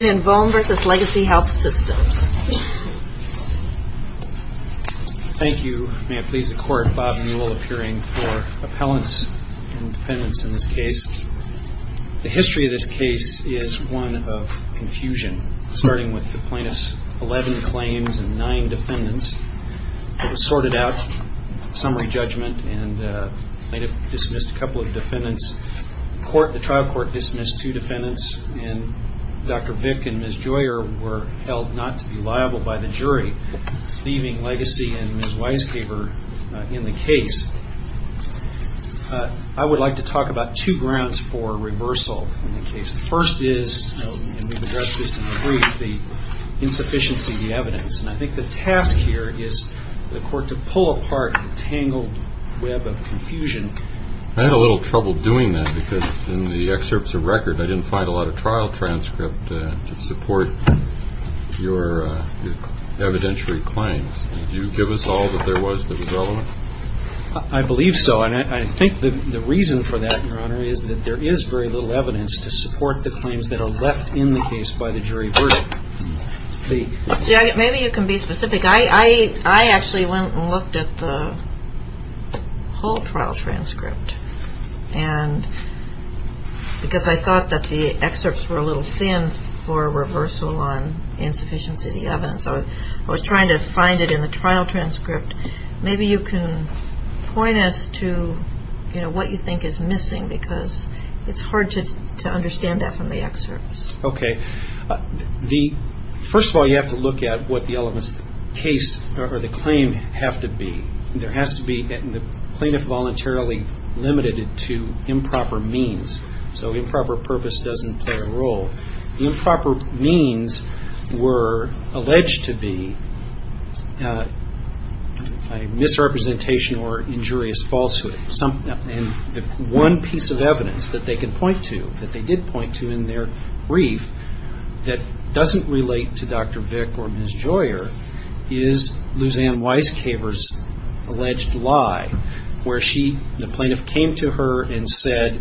Thank you. May it please the Court, Bob Newell appearing for appellants and defendants in this case. The history of this case is one of confusion, starting with the plaintiffs' eleven claims and nine defendants. It was sorted out, summary judgment, and they dismissed a couple of defendants. The trial court dismissed two defendants, and Dr. Vick and Ms. Joyer were held not to be liable by the jury, leaving Legacy and Ms. Weisgaber in the case. I would like to talk about two grounds for reversal in the case. The first is, and we've addressed this in the brief, the insufficiency of the evidence, and I think the task here is for to pull apart the tangled web of confusion. I had a little trouble doing that because in the excerpts of record I didn't find a lot of trial transcript to support your evidentiary claims. Did you give us all that there was that was relevant? I believe so, and I think the reason for that, Your Honor, is that there is very little evidence to support the claims that are left in the case by the jury verdict. Maybe you can be specific. I actually went and looked at the whole trial transcript because I thought that the excerpts were a little thin for reversal on insufficiency of the evidence. I was trying to find it in the trial transcript. Maybe you can point us to what you think is missing because it's hard to understand that from the excerpts. Okay. First of all, you have to look at what the case or the claim have to be. There has to be, and the plaintiff voluntarily limited it to improper means, so improper purpose doesn't play a role. Improper means were alleged to be a misrepresentation or injurious falsehood, and the one piece of evidence that they can point to, that they did point to in their brief, that doesn't relate to Dr. Vick or Ms. Joyer is Luzanne Weiskaver's alleged lie where the plaintiff came to her and said,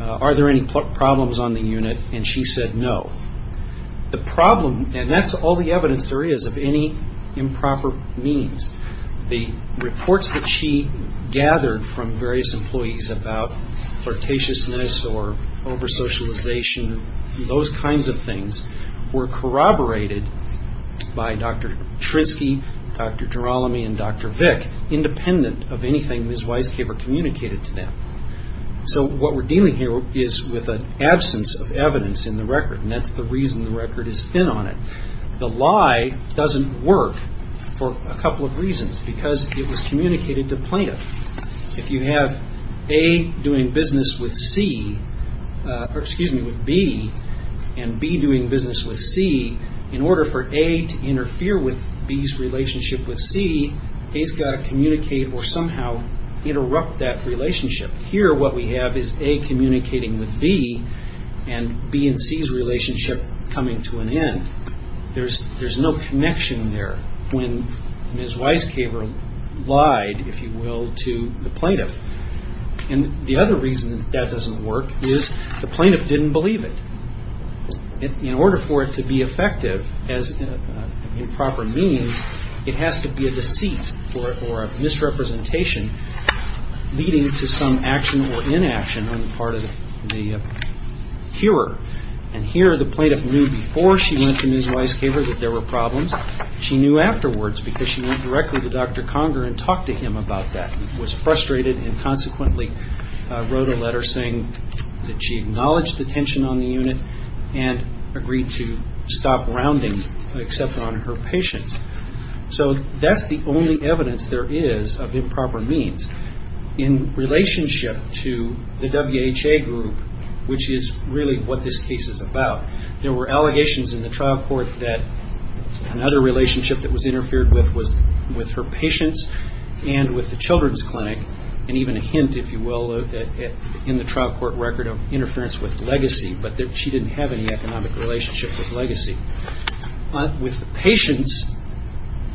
are there any problems on the unit, and she said no. The problem, and that's all the evidence there is of any improper means. The reports that she gathered from various employees about flirtatiousness or over socialization, those kinds of things, were corroborated by Dr. Trinsky, Dr. Girolami, and Dr. Vick independent of anything Ms. Weiskaver communicated to them. So what we're dealing here is with an absence of evidence in the record, and that's the reason the record is thin on it. The lie doesn't work for a couple of reasons, because it was if you have A doing business with B, and B doing business with C, in order for A to interfere with B's relationship with C, A's got to communicate or somehow interrupt that relationship. Here what we have is A communicating with B, and B and C's relationship coming to an end. There's no connection there when Ms. Weiskaver lied, if you will, to the plaintiff. The other reason that that doesn't work is the plaintiff didn't believe it. In order for it to be effective as improper means, it has to be a deceit or a misrepresentation leading to some action or inaction on the part of the hearer. Here the plaintiff knew before she went to Ms. Weiskaver that there were problems. She knew afterwards because she went directly to Dr. Conger and talked to him about that. She was frustrated and consequently wrote a letter saying that she acknowledged the tension on the unit and agreed to stop rounding, except on her patients. So that's the only evidence there is of improper means in relationship to the WHA group, which is really what this case is about. There were allegations in the trial court that another relationship that was interfered with was with her patients and with the children's clinic, and even a hint, if you will, in the trial court record of interference with legacy, but she didn't have any economic relationship with legacy. With the patients,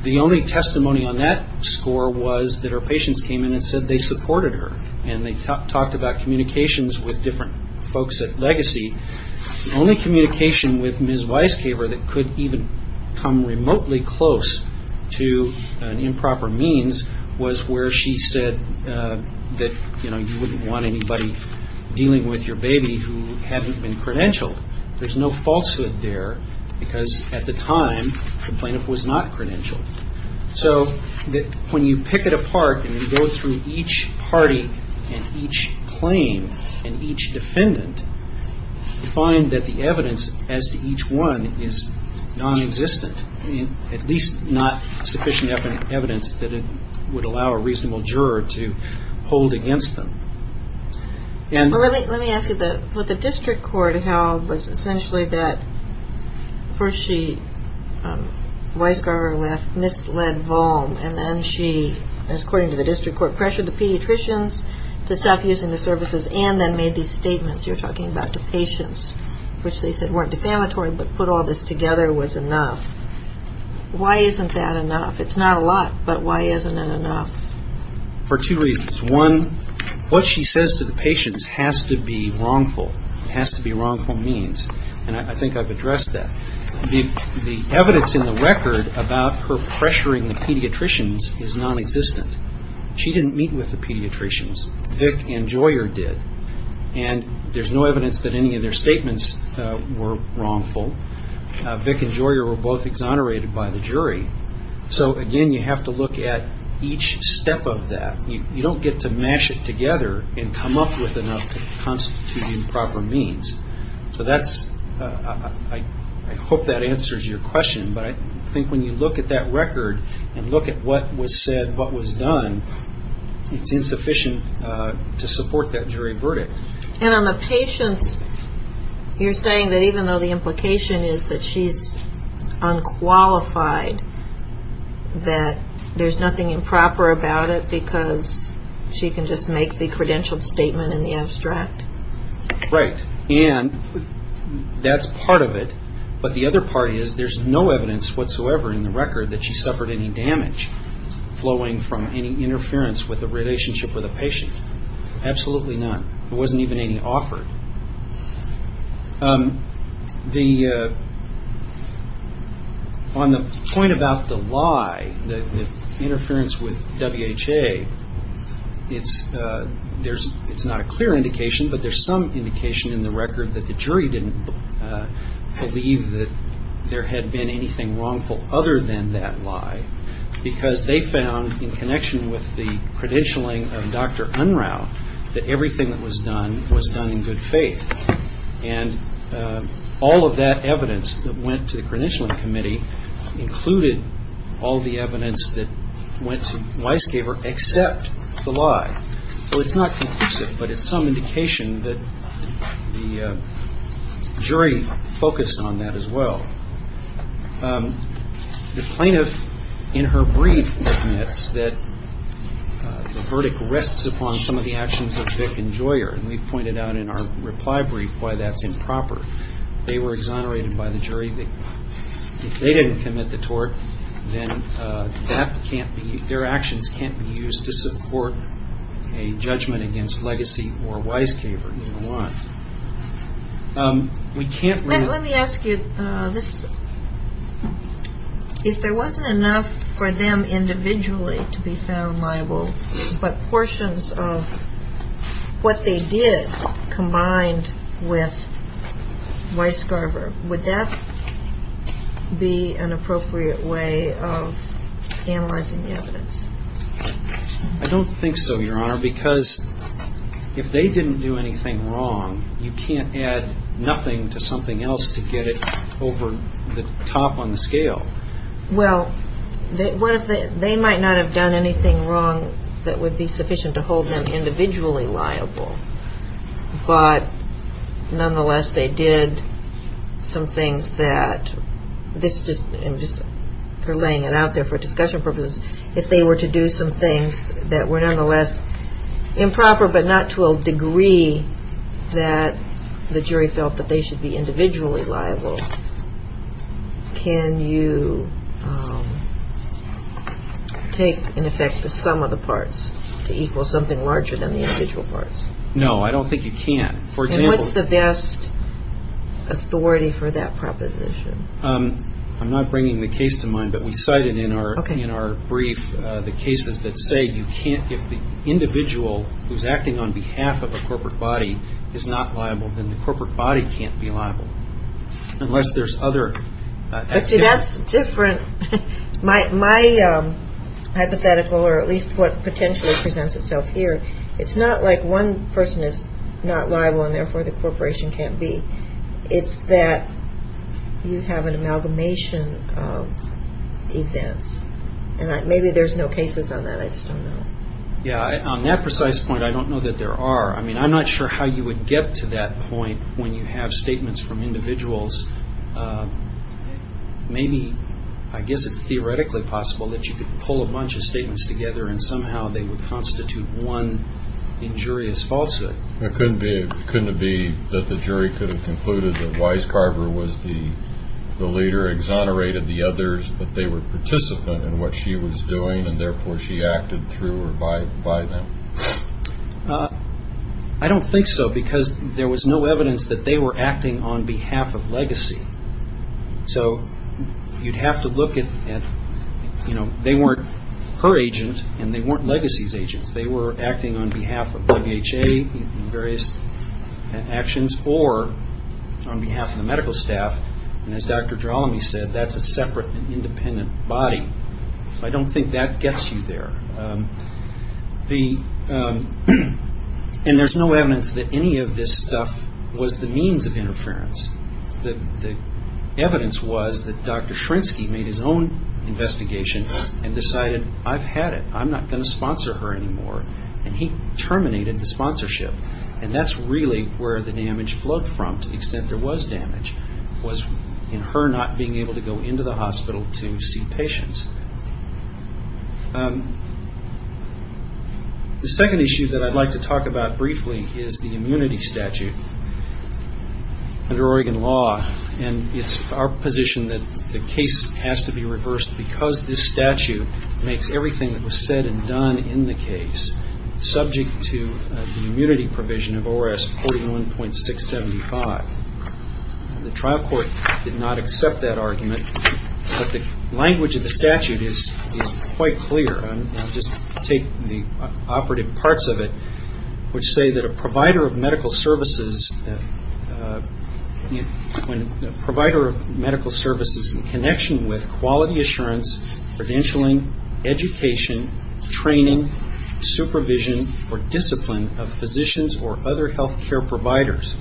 the only testimony on that score was that her patients came in and said they supported her and they talked about communications with different folks at legacy. The only communication with Ms. Weiskaver that could even come remotely close to an improper means was where she said that, you know, you wouldn't want anybody dealing with your baby who hadn't been credentialed. There's no falsehood there because at the time the plaintiff was not credentialed. So when you pick it apart and you go through each party and each claim and each defendant, you find that the evidence as to each one is nonexistent, at least not sufficient evidence that it would allow a reasonable juror to hold against them. Let me ask you, what the district court held was essentially that first she, Weiskaver left misled volm and then she, according to the district court, pressured the pediatricians to stop using the services and then made these statements you're talking about to patients which they said weren't defamatory but put all this together was enough. Why isn't that enough? It's not a lot, but why isn't it enough? For two reasons. One, what she says to the patients has to be wrongful. It has to be wrongful. Her pressuring the pediatricians is nonexistent. She didn't meet with the pediatricians. Vic and Joyer did. There's no evidence that any of their statements were wrongful. Vic and Joyer were both exonerated by the jury. So again, you have to look at each step of that. You don't get to mash it together and come up with enough to constitute improper means. So I hope that answers your question, but I think when you look at that record and look at what was said, what was done, it's insufficient to support that jury verdict. And on the patients, you're saying that even though the implication is that she's unqualified, that there's nothing improper about it because she can just make the credentialed statement and the abstract. Right. And that's part of it, but the other part is there's no evidence whatsoever in the record that she suffered any damage flowing from any interference with the relationship with a patient. Absolutely none. There wasn't even any offered. On the point about the lie, the interference with WHA, it's not a good point. It's not a clear indication, but there's some indication in the record that the jury didn't believe that there had been anything wrongful other than that lie because they found in connection with the credentialing of Dr. Unrau that everything that was done was done in good faith. And all of that evidence that went to the credentialing committee included all the evidence that went to Weisgaber except the lie. So it's not conclusive, but it's some indication that the jury focused on that as well. The plaintiff in her brief admits that the verdict rests upon some of the actions of Vick and Joyer, and we've pointed out in our reply brief why that's improper. They were actions can't be used to support a judgment against Legacy or Weisgaber. Let me ask you this. If there wasn't enough for them individually to be found liable, but portions of what they did combined with Weisgaber, would that be an appropriate way of analyzing the evidence? I don't think so, Your Honor, because if they didn't do anything wrong, you can't add nothing to something else to get it over the top on the scale. Well, what if they might not have done anything wrong that would be sufficient to hold them individually liable, but nonetheless they did some things that this just, I'm just relaying it out there for discussion purposes, if they were to do some things that were nonetheless improper but not to a degree that the jury felt that they should be individually liable, can you take, in effect, the sum of the parts to equal something larger than the individual parts? No, I don't think you can. And what's the best authority for that proposition? I'm not bringing the case to mind, but we cited in our brief the cases that say you can't, if the individual who's acting on behalf of a corporate body is not liable, then the corporate body can't be liable, unless there's other... But see, that's different. My hypothetical, or at least what potentially presents itself here, it's not like one person is not liable and therefore the corporation can't be. It's that you have an amalgamation of events. Maybe there's no cases on that, I just don't know. Yeah, on that precise point, I don't know that there are. I mean, I'm not sure how you would get to that point when you have statements from individuals. Maybe, I guess it's theoretically possible that you could pull a bunch of statements together and somehow they would constitute one injurious falsehood. Couldn't it be that the jury could have concluded that Weiscarver was the leader, exonerated the others, but they were participant in what she was doing and therefore she acted through or by them? I don't think so, because there was no evidence that they were acting on behalf of Legacy. So you'd have to look at... They weren't her agent and they weren't Legacy's agents. They were acting on behalf of WHA in various actions or on behalf of the medical staff. As Dr. Drolomey said, that's a separate and independent body. I don't think that gets you there. There's no evidence that any of this stuff was the means of interference. The evidence was that Dr. Shrinsky made his own investigation and decided, I've had it. I'm not going to do it. He terminated the sponsorship. That's really where the damage flowed from, to the extent there was damage, was in her not being able to go into the hospital to see patients. The second issue that I'd like to talk about briefly is the immunity statute under Oregon law. It's our position that the case has to be reversed because this statute makes everything that was said and done in the case subject to the immunity provision of ORS 41.675. The trial court did not accept that argument, but the language of the statute is quite clear. I'll just take the operative parts of it, which say that a provider of medical services in connection with quality assurance, credentialing, education, training, supervision, or discipline of physicians or other health care providers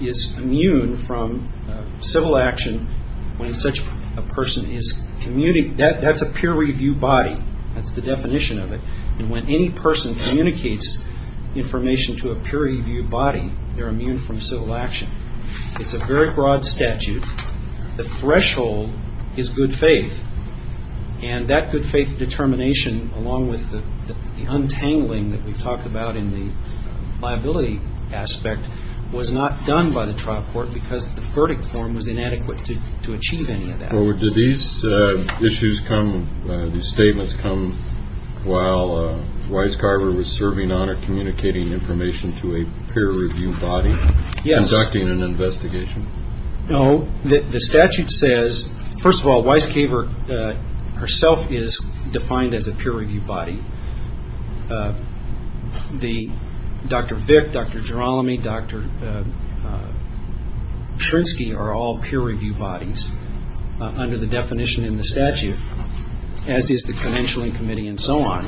is immune from civil action when such a person is, that's a peer review body. That's the definition of it. When any person communicates information to a peer review body, they're immune from civil action. It's a very broad statute. The threshold is good faith, and that good faith determination along with the untangling that we talked about in the liability aspect was not done by the trial court because the verdict form was inadequate to achieve any of that. Did these issues come, these statements come while Weiscarver was serving on a communicating information to a peer review body conducting an investigation? No. The statute says, first of all, Weiscarver herself is defined as a peer review body. Dr. Vick, Dr. Girolami, Dr. Shrinsky are all peer review bodies under the definition in the statute, as is the credentialing committee and so on.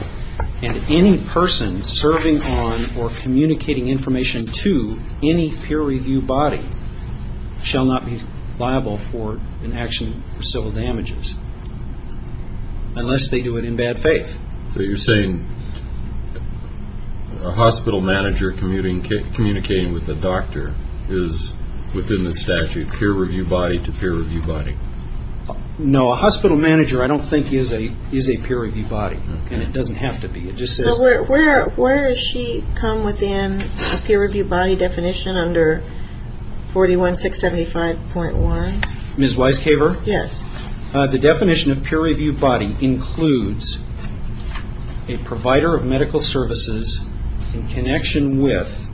Any person serving on or communicating information to any peer review body shall not be liable for an action for civil damages unless they do it in bad faith. So you're saying a hospital manager communicating with a doctor is within the statute, peer review body to peer review body? No, a hospital manager I don't think is a peer review body, and it doesn't have to be. Where does she come within the peer review body definition under 41675.1? Ms. Weiscarver? Yes. The definition of peer review body includes a provider of medical services in connection with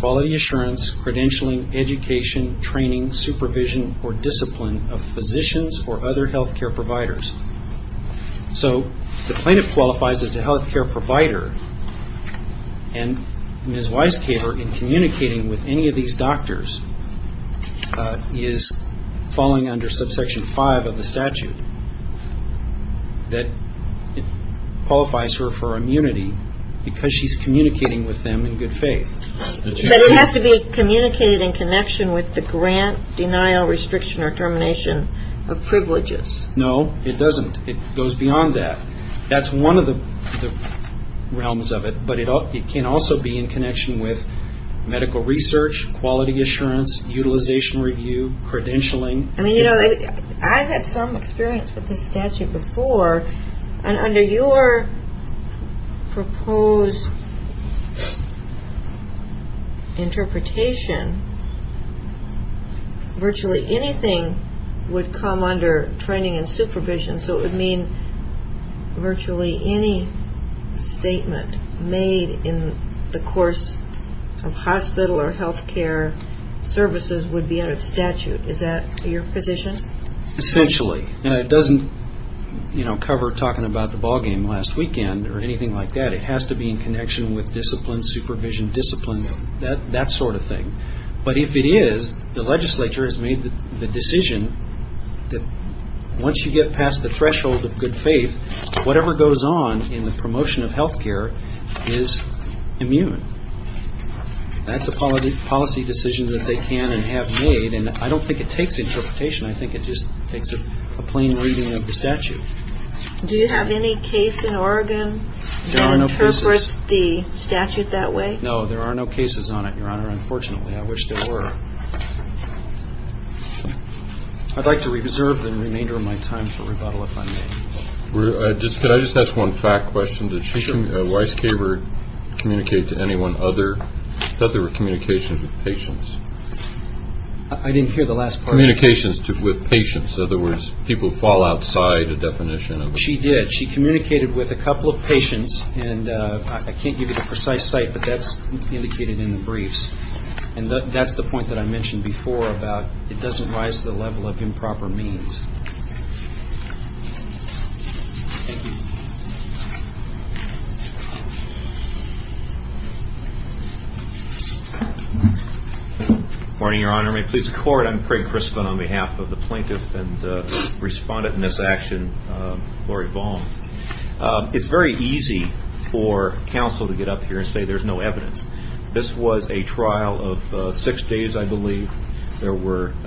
quality assurance, credentialing, education, training, supervision or discipline of physicians or other health care providers. So the plaintiff qualifies as a health care provider, and Ms. Weiscarver is in section 5 of the statute that qualifies her for immunity because she's communicating with them in good faith. But it has to be communicated in connection with the grant, denial, restriction or termination of privileges. No, it doesn't. It goes beyond that. That's one of the realms of it, but it can also be in connection with medical research, quality assurance, utilization review, credentialing. I've had some experience with this statute before, and under your proposed interpretation, virtually anything would come under training and supervision, so it would mean virtually any statement made in the course of hospital or health care services would be under the position. Essentially. And it doesn't cover talking about the ballgame last weekend or anything like that. It has to be in connection with discipline, supervision, discipline, that sort of thing. But if it is, the legislature has made the decision that once you get past the threshold of good faith, whatever goes on in the promotion of health care is immune. That's a policy decision that they can and have made, and I don't think it takes interpretation. I think it just takes a plain reading of the statute. Do you have any case in Oregon that interprets the statute that way? No, there are no cases on it, Your Honor, unfortunately. I wish there were. I'd like to reserve the remainder of my time for rebuttal if I may. Could I just ask one fact question? Sure. Did Dr. Weiss-Caber communicate to anyone other? I thought there were communications with patients. I didn't hear the last part. Communications with patients. In other words, people who fall outside a definition. She did. She communicated with a couple of patients, and I can't give you the precise site, but that's indicated in the briefs. And that's the point that I mentioned before about it doesn't rise to the level of improper means. Good morning, Your Honor. May it please the Court, I'm Craig Crispin on behalf of the plaintiff and respondent in this action, Lori Vaughn. It's very easy for counsel to get up here and say there's no evidence. This was a trial of six days, I believe. There record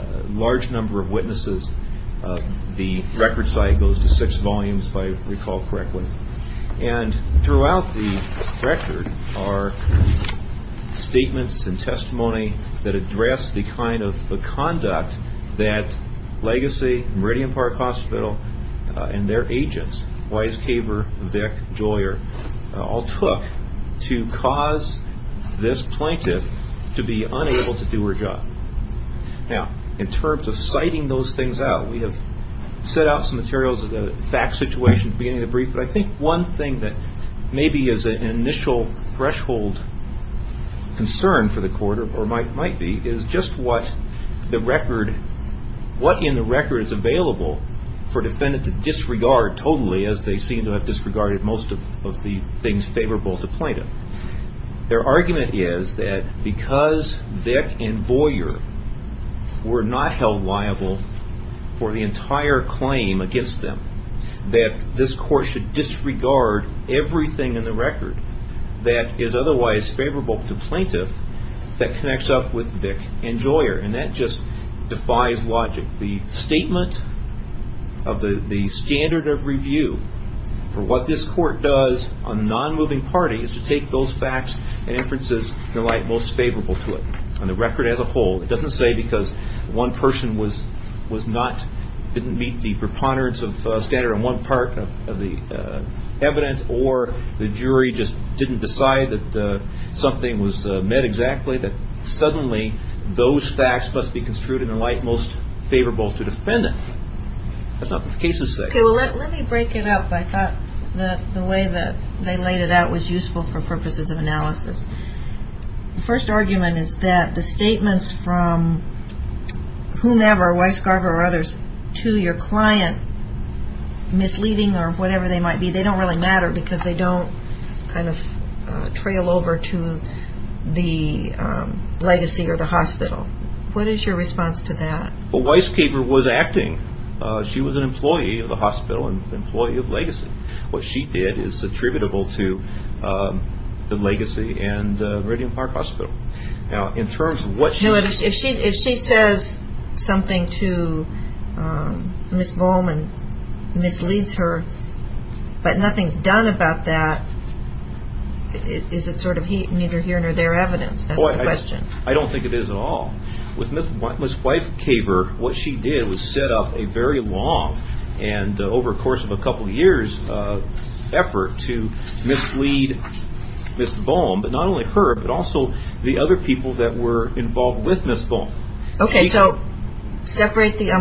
site goes to six volumes, if I recall correctly. And throughout the record are statements and testimony that address the kind of conduct that Legacy, Meridian Park Hospital, and their agents, Weiss-Caber, Vick, Joyer, all took to cause this plaintiff to be unable to do her job. Now, in terms of citing those things out, we have set out some materials as a fact situation at the beginning of the brief, but I think one thing that maybe is an initial threshold concern for the Court, or might be, is just what in the record is available for a defendant to disregard totally, as they seem to have disregarded most of the things that are otherwise favorable to plaintiff. Their argument is that because Vick and Joyer were not held liable for the entire claim against them, that this Court should disregard everything in the record that is otherwise favorable to plaintiff that connects up with Vick and Joyer. And that just defies logic. The statement of the standard of review for what this ruling party is to take those facts and inferences in the light most favorable to it. On the record as a whole, it doesn't say because one person was not, didn't meet the preponderance of standard on one part of the evidence, or the jury just didn't decide that something was met exactly, that suddenly those facts must be construed in the light most favorable to defendant. That's not what the cases say. The first argument is that the statements from whomever, Weisgarber or others, to your client misleading or whatever they might be, they don't really matter because they don't kind of trail over to the legacy or the hospital. What is your response to that? Weisgarber was acting. She was an employee of the hospital and employee of legacy. What she did is attributable to the legacy and Meridian Park Hospital. If she says something to Ms. Bohman, misleads her, but nothing is done about that, is it sort of neither here nor there evidence? I don't think it is at all. With Ms. Weisgarber, what she did was set up a very long and over the course of a year's effort to mislead Ms. Bohm, but not only her, but also the other people that were involved with Ms. Bohm. I'm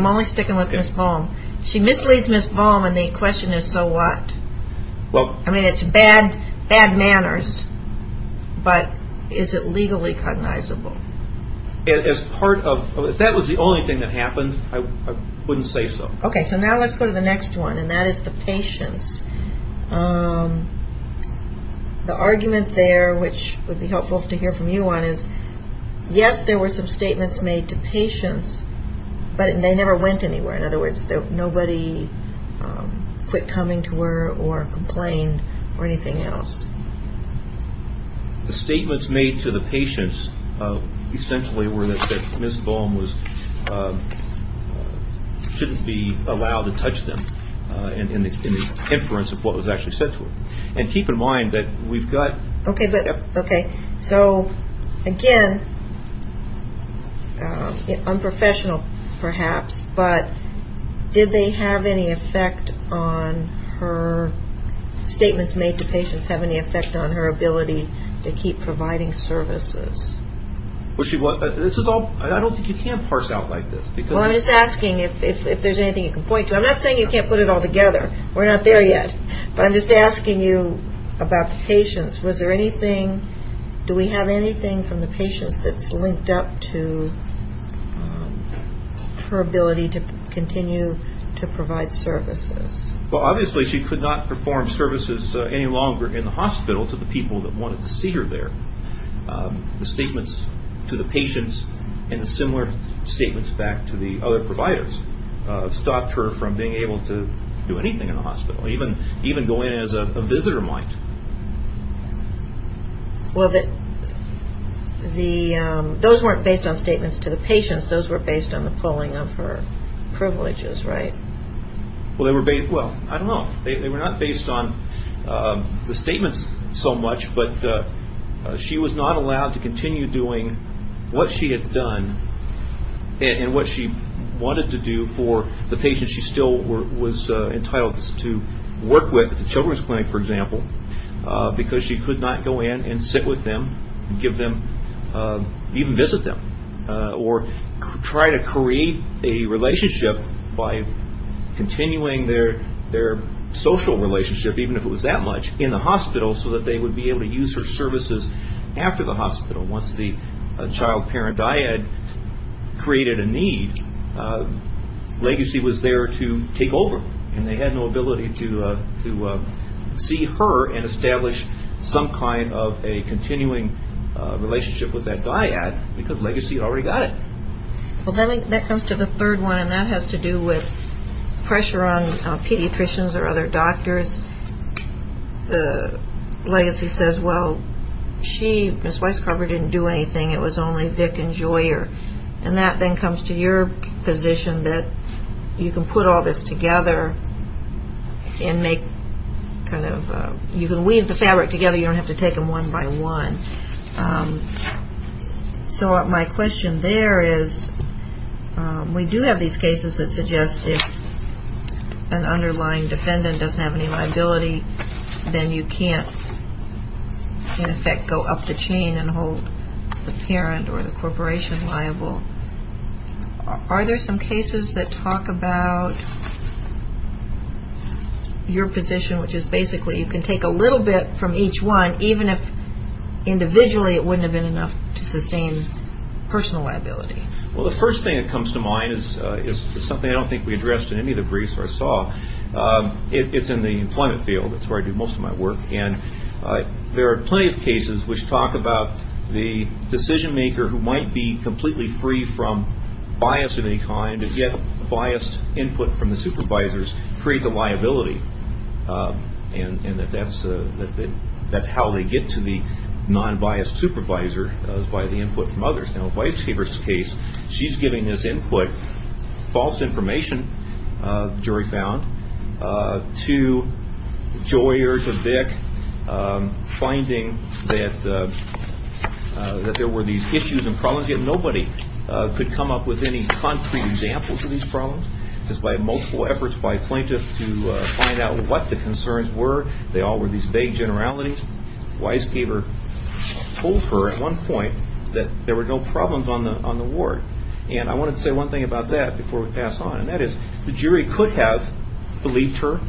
only sticking with Ms. Bohm. She misleads Ms. Bohm and the question is so what? It's bad manners, but is it legally cognizable? If that was the only thing that happened, I wouldn't say so. Now let's go to the next one and that is the patients. The argument there which would be helpful to hear from you on is yes, there were some statements made to patients, but they never went anywhere. In other words, nobody quit coming to her or complained or anything else. The statements made to the patients essentially were that Ms. Bohm shouldn't be allowed to touch them in the inference of what was actually said to her. Again, unprofessional perhaps, but did they have any effect on her statements made to patients? Did they have any effect on her ability to keep providing services? I don't think you can parse out like this. I'm just asking if there's anything you can point to. I'm not saying you can't put it all together. We're not there yet. I'm just asking you about the patients. Do we have anything from the patients that's linked up to her ability to continue to provide services? Well, obviously she could not perform services any longer in the hospital to the people that wanted to see her there. The statements to the patients and the similar statements back to the other providers stopped her from being able to do anything in the hospital. Even going in as a visitor might. Those weren't based on statements to the patients. Those were based on the pulling of her privileges, right? Well, I don't know. They were not based on the statements so much, but she was not allowed to continue doing what she had done and what she wanted to do for the patients she still was entitled to work with at the children's clinic, for example, because she could not go in and sit with them, even visit them, or try to create a relationship by continuing their social relationship, even if it was that much, in the hospital so that they would be able to use her services after the hospital once the child-parent dyad created a need. Legacy was there to take over, and they had no ability to see her and establish some kind of a continuing relationship with that dyad because Legacy had already got it. Well, that comes to the third one, and that has to do with pressure on pediatricians or other doctors. Legacy says, well, she, Ms. Weiscarver, didn't do anything. It was only Dick and Joyer. And that then comes to your position that you can put all this together and make kind of, you can weave the fabric together. So you don't have to take them one by one. So my question there is, we do have these cases that suggest if an underlying defendant doesn't have any liability, then you can't in effect go up the chain and hold the parent or the corporation liable. Are there some cases that talk about your position, which is basically you can take a little bit from each one, even if individually it wouldn't have been enough to sustain personal liability? Well, the first thing that comes to mind is something I don't think we addressed in any of the briefs I saw. It's in the employment field. It's where I do most of my work. And there are plenty of cases which talk about the decision-maker who might be completely free from bias of any kind, and yet biased input from the supervisors creates a liability. And that's how they get to the non-biased supervisor, is by the input from others. Now in Weiscarver's case, she's giving this input, false information, the jury found, to Joyer, to Dick, finding that there were these issues and problems, yet nobody could come up with any concrete examples of these problems. Just by multiple efforts by plaintiffs to find out what the concerns were, they all were these vague generalities. Weiscarver told her at one point that there were no problems on the ward. And I wanted to say one thing about that before we pass on, and that is the jury could have believed her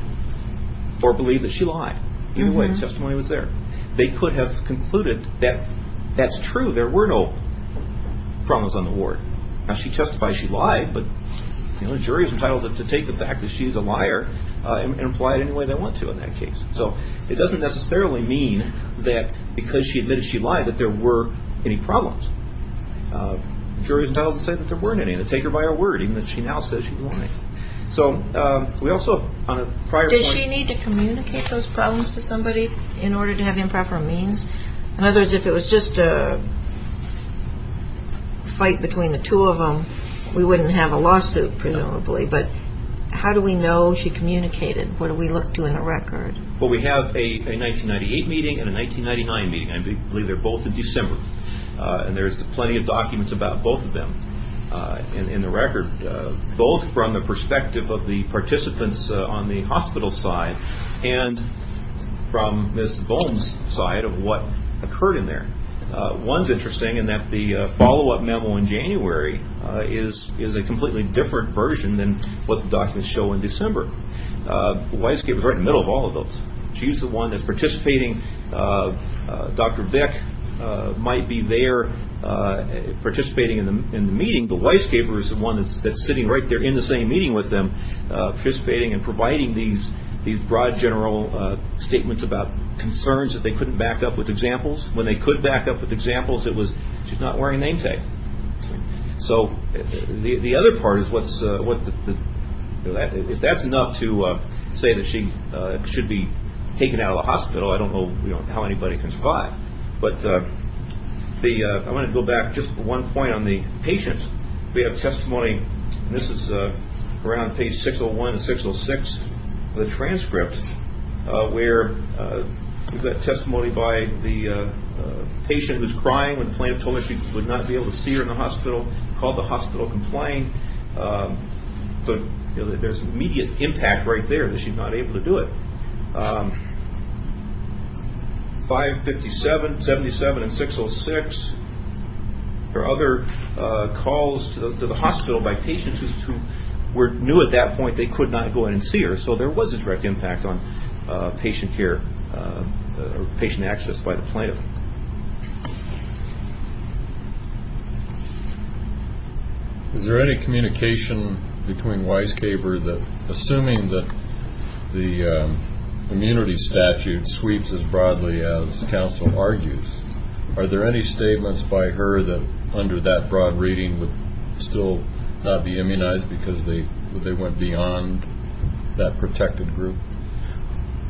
or believed that she lied. Either way, the testimony was there. They could have concluded that that's true, there were no problems on the ward. Now she testified she lied, but the jury is entitled to take the fact that she's a liar and apply it any way they want to in that case. So it doesn't necessarily mean that because she admitted she lied that there were any problems. The jury is entitled to say that there weren't any, and to take her by her word, even if she now says she's lying. Did she need to communicate those problems to somebody in order to have improper means? In other words, if it was just a fight between the two of them, we wouldn't have a lawsuit, presumably. But how do we know she communicated? What do we look to in the record? We have a 1998 meeting and a 1999 meeting. I believe they're both in December. And there's plenty of documents about both of them in the record, both from the perspective of the participants on the hospital side and from Ms. Bohn's side of what occurred in there. One's interesting in that the follow-up memo in January is a completely different version than what the documents show in December. Weisgaber's right in the middle of all of those. She's the one that's participating. Dr. Vick might be there participating in the meeting, but Weisgaber's the one that's sitting right there in the same meeting with them, participating and providing these broad, general statements about concerns that they couldn't back up with examples. When they could back up with examples, it was, she's not wearing name tag. The other part is, if that's enough to say that she should be taken out of the hospital, I don't know how anybody can survive. But I want to go back just for one point on the patient. We have testimony, and this is around page 601 and 606 of the transcript, where we've got testimony by the patient who's crying when the plaintiff told her she would not be able to see her in the hospital, called the hospital complying. But there's immediate impact right there that she's not able to do it. 557, 77, and 606. There are other calls to the hospital by patients who knew at that point they could not go in and see her. So there was a direct impact on patient care, patient access by the plaintiff. Is there any communication between Weisgaber that, assuming that the immunity statute sweeps as broadly as counsel argues, are there any statements by her that under that broad reading would still not be immunized because they went beyond that protected group?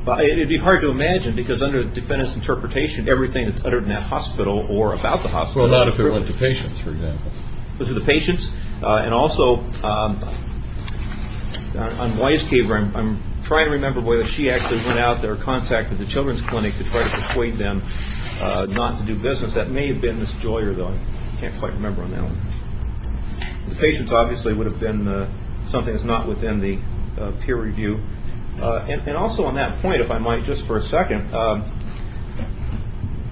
It would be hard to imagine, because under the defendant's interpretation, everything that's uttered in that hospital or about the hospital is proven. To the patients, and also on Weisgaber, I'm trying to remember whether she actually went out there or contacted the children's clinic to try to persuade them not to do business. That may have been Ms. Joyer, though. I can't quite remember on that one. The patients obviously would have been something that's not within the peer review. And also on that point, if I might, just for a second,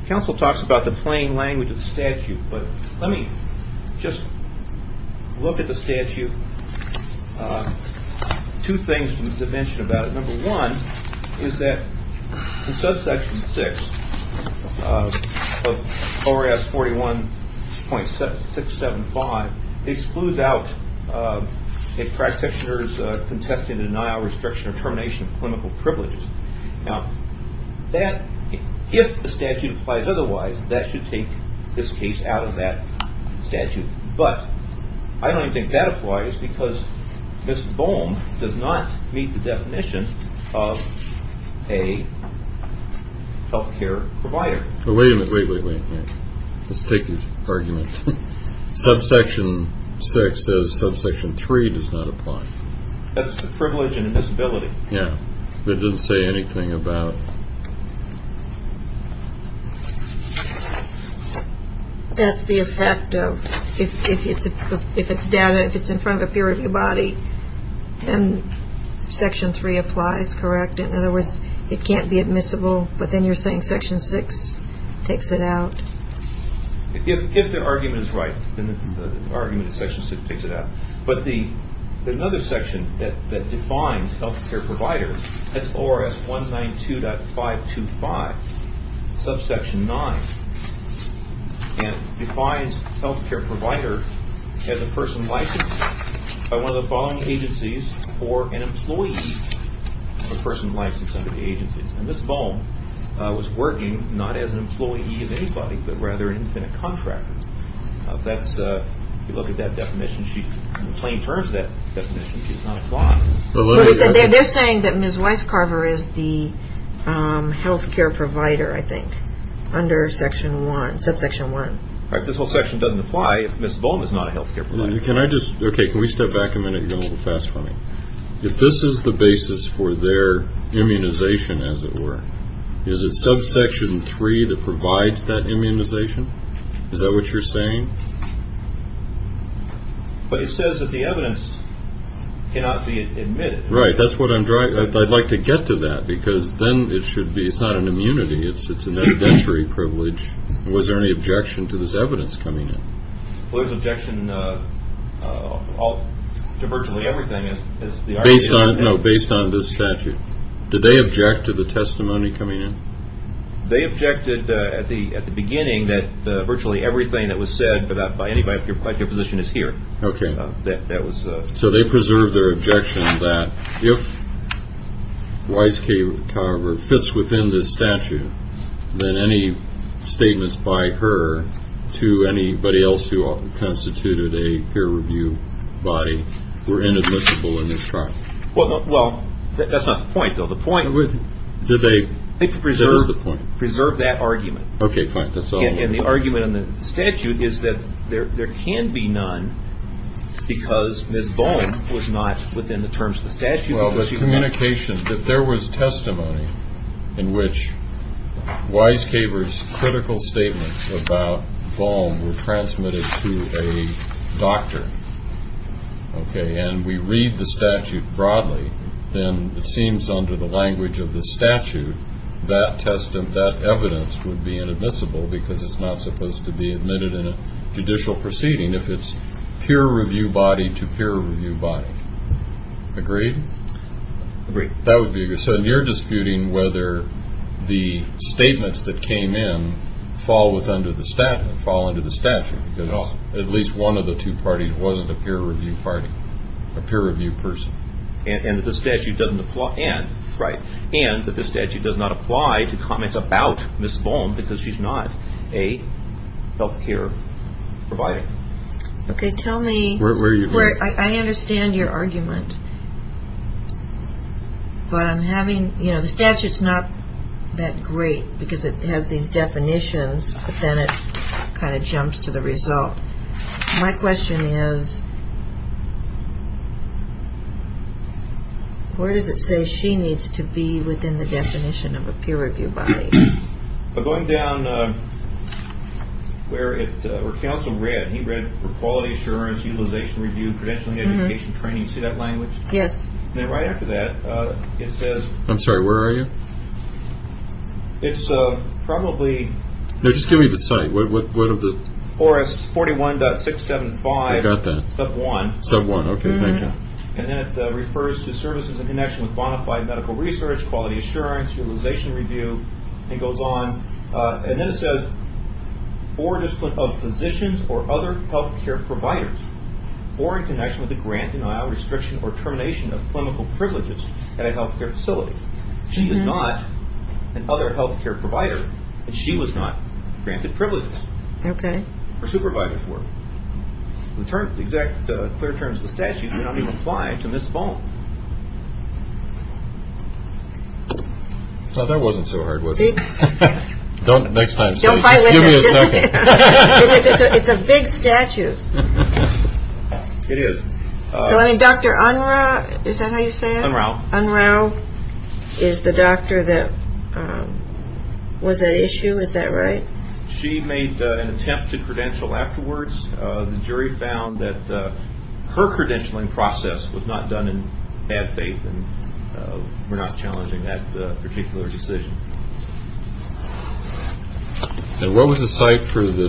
counsel talks about the plain language of the statute, but let me just look at the statute. Two things to mention about it. Number one is that in subsection 6 of ORS 41.675, it excludes out a practitioner's contested denial, restriction, or termination of clinical privileges. If the statute applies otherwise, that should take this case out of that statute. But I don't even think that applies, because Ms. Bohm does not meet the definition of a health care provider. Wait a minute. Let's take your argument. Subsection 6 says subsection 3 does not apply. That's the privilege and admissibility. That's the effect of, if it's in front of a peer review body and section 3 takes it out. If the argument is right, then the argument in section 6 takes it out. But another section that defines health care providers, that's ORS 192.525, subsection 9, and defines health care provider as a person licensed under the agency. And Ms. Bohm was working not as an employee of anybody, but rather as a contractor. In the plain terms of that definition, she does not apply. They're saying that Ms. Weiscarver is the health care provider, I think, under subsection 1. This whole section doesn't apply if Ms. Bohm is not a health care provider. If this is the basis for their immunization, as it were, is it subsection 3 that provides that immunization? Is that what you're saying? But it says that the evidence cannot be admitted. Right. I'd like to get to that, because then it's not an immunity, it's an evidentiary privilege. Was there any objection to this evidence coming in? Well, there's objection to virtually everything. Based on this statute. Did they object to the testimony coming in? They objected at the beginning that virtually everything that was said, if your position is here. So they preserved their objection that if Weiscarver fits within this statute, then any statements by her to anybody else who constituted a peer review body were inadmissible in this trial. I think to preserve that argument. And the argument in the statute is that there can be none because Ms. Bohm was not within the terms of the statute. If there was testimony in which Weiscarver's critical statements about Bohm were transmitted to a doctor, Okay. And we read the statute broadly, then it seems under the language of the statute that evidence would be inadmissible because it's not supposed to be admitted in a judicial proceeding if it's peer review body to peer review body. Agreed? So you're disputing whether the statements that came in fall into the statute because at least one of the two parties wasn't a peer review person. And that the statute does not apply to comments about Ms. Bohm because she's not a health care provider. I understand your argument. But I'm having, you know, the statute's not that great because it has these definitions, but then it kind of jumps to the result. My question is, where does it say she needs to be within the definition of a peer review body? Going down where it, where counsel read, he read for quality assurance, utilization review, credentialing, education, training, see that language? Yes. And then right after that it says. I'm sorry, where are you? It's probably. No, just give me the site. What of the. 41.675. I got that. Sub 1. Sub 1, okay, thank you. And then it refers to services in connection with bona fide medical research, quality assurance, utilization review, and goes on and then it says or discipline of physicians or other health care providers or in connection with the grant denial restriction or termination of clinical privileges at a health care facility. She is not an other health care provider and she was not granted privileges. Okay. Supervisor for the exact clear terms of the statute may not even apply to Ms. Bohm. That wasn't so hard, was it? Don't. Next time. Don't fight with me. It's a big statute. It is. Dr. Unruh. Is that how you say it? Unruh. Unruh is the doctor that was at issue. Is that right? She made an attempt to credential afterwards. The jury found that her credentialing process was not done in bad faith and we're not challenging that particular decision. And what was the site for the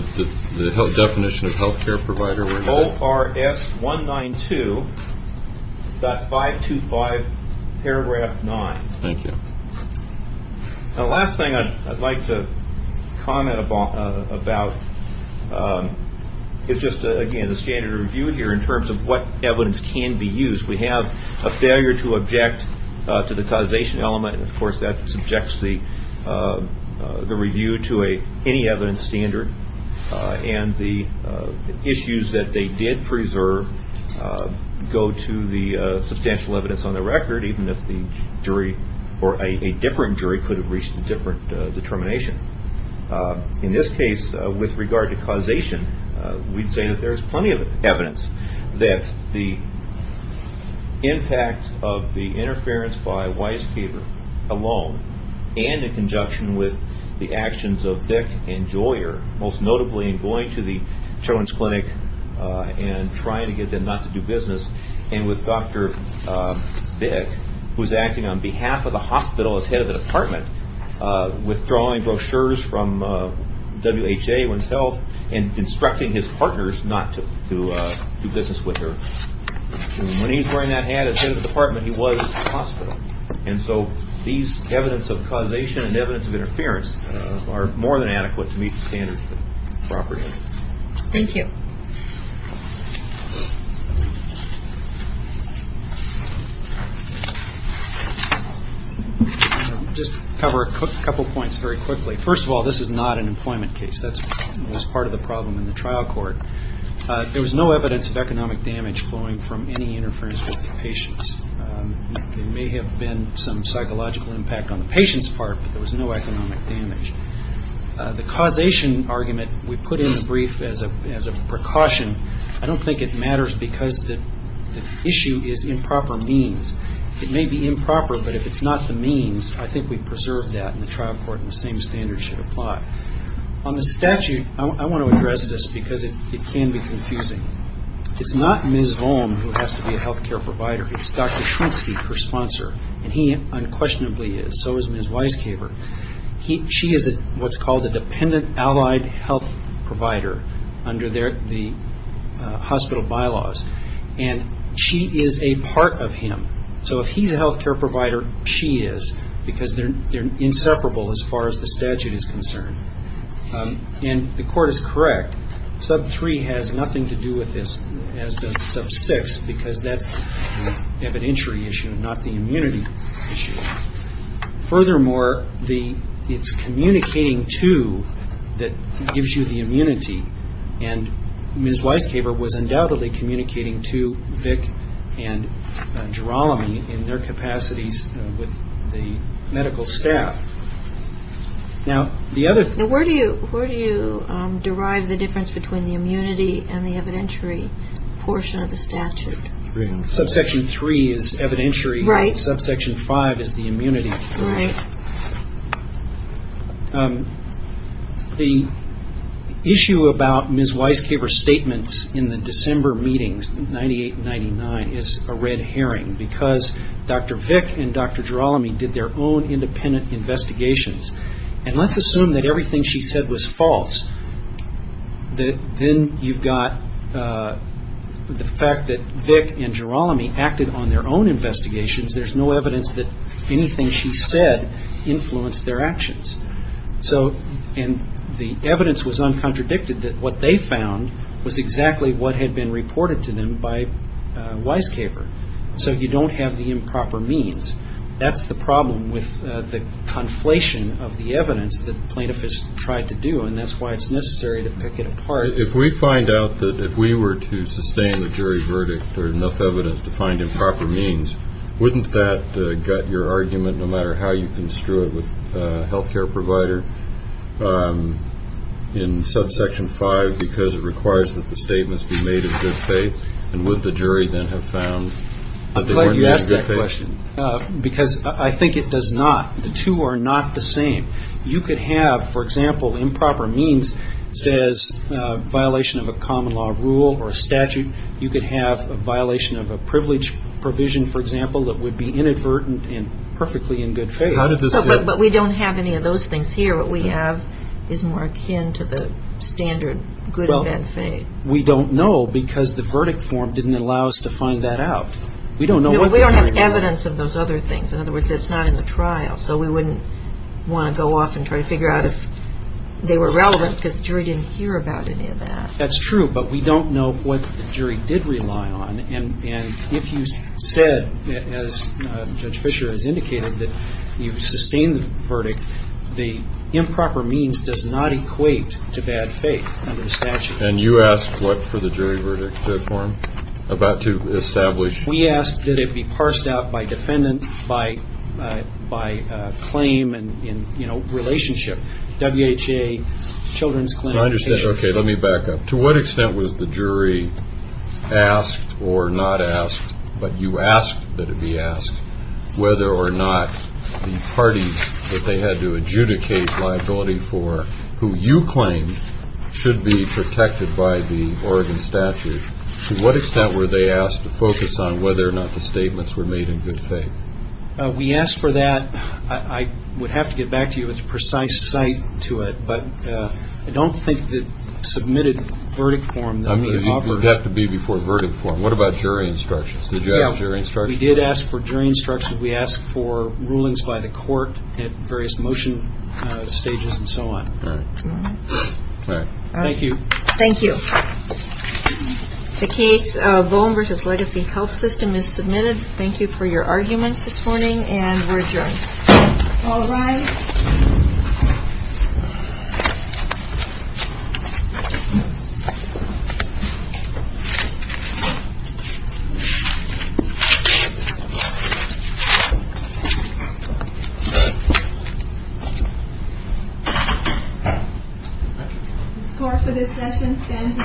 definition of health care provider? ORS 192.525 paragraph 9. Thank you. The last thing I'd like to comment about is just again the standard review here in terms of what evidence can be used. We have a failure to object to the causation element and of course that subjects the review to any evidence standard and the issues that they did preserve go to the substantial evidence on the record even if the jury or a different jury could have reached a different determination. In this case, with regard to causation, we'd say that there's plenty of evidence that the impact of the interference by Weisgaber alone and in conjunction with the actions of Dick and Joyer most notably in going to the Children's Clinic and trying to get them not to do business and with Dr. Vick who's acting on behalf of the hospital as head of the department, withdrawing brochures from WHA, Women's Health, and instructing his partners not to do business with her. When he's wearing that hat as head of the department, he was at the hospital. These evidence of causation and evidence of interference are more than adequate to meet standard property. Just to cover a couple points very quickly. First of all, this is not an employment case. That's part of the problem in the trial court. There was no evidence of economic damage flowing from any interference with the patients. There may have been some causation argument. We put in the brief as a precaution. I don't think it matters because the issue is improper means. It may be improper, but if it's not the means, I think we preserve that in the trial court and the same standards should apply. On the statute, I want to address this because it can be confusing. It's not Ms. Volm who has to be a health care provider. It's Dr. Schwentzke, her sponsor. He unquestionably is. So is Ms. Weiskaper. She is what's called a dependent allied health provider under the hospital bylaws. She is a part of him. If he's a health care provider, she is because they're inseparable as far as the statute is concerned. The court is correct. Sub 3 has nothing to do with this as does sub 6 because that's an evidentiary issue, not the immunity issue. Furthermore, it's communicating to that gives you the immunity. And Ms. Weiskaper was undoubtedly communicating to Vic and Gerolami in their capacities with the medical staff. Now where do you derive the difference between the immunity and the evidentiary portion of the statute? Subsection 3 is evidentiary. Subsection 5 is the immunity. The issue about Ms. Weiskaper's statements in the December meetings, 98 and 99, is a red herring because Dr. Vic and Dr. Gerolami did their own independent investigations. And let's assume that everything she said was false. Then you've got the fact that Vic and Gerolami acted on their own investigations. There's no evidence that anything she said influenced their actions. And the evidence was uncontradicted that what they found was exactly what had been reported to them by Weiskaper. So you don't have the improper means. That's the problem with the conflation of the evidence that plaintiff has tried to do and that's why it's necessary to pick it apart. If we find out that if we were to sustain the jury verdict there's enough evidence to find improper means, wouldn't that gut your argument no matter how you construe it with the jury? I'm glad you asked that question because I think it does not. The two are not the same. You could have, for example, improper means says violation of a common law rule or a statute. You could have a violation of a privilege provision, for example, that would be inadvertent and perfectly in good faith. But we don't have any of those things here. What we have is more akin to the standard good and bad faith. We don't know because the verdict form didn't allow us to find that out. We don't know. We don't have evidence of those other things. In other words, it's not in the trial. So we wouldn't want to go off and try to figure out if they were relevant because the jury didn't hear about any of that. That's true, but we don't know what the jury did rely on. And if you said, as Judge Fischer has indicated, that you sustained the verdict, the improper means does not equate to bad faith under the statute. We asked that it be parsed out by defendant by claim and relationship. Okay. Let me back up. To what extent was the jury asked or not asked, but you asked that it be asked, whether or not the parties that they had to adjudicate liability for who you claimed should be protected by the Oregon statute, to what extent were they asked to focus on whether or not the statements were made in good faith? We asked for that. I would have to get back to you with a precise site to it, but I don't think the submitted verdict form that we offered. It would have to be before verdict form. What about jury instructions? We did ask for jury instructions. We asked for rulings by the court at various motion stages and so on. All right. Thank you. The case of Boehm v. Legacy Health System is submitted. Thank you for your arguments this morning, and we're adjourned. All right. The score for this session stands at..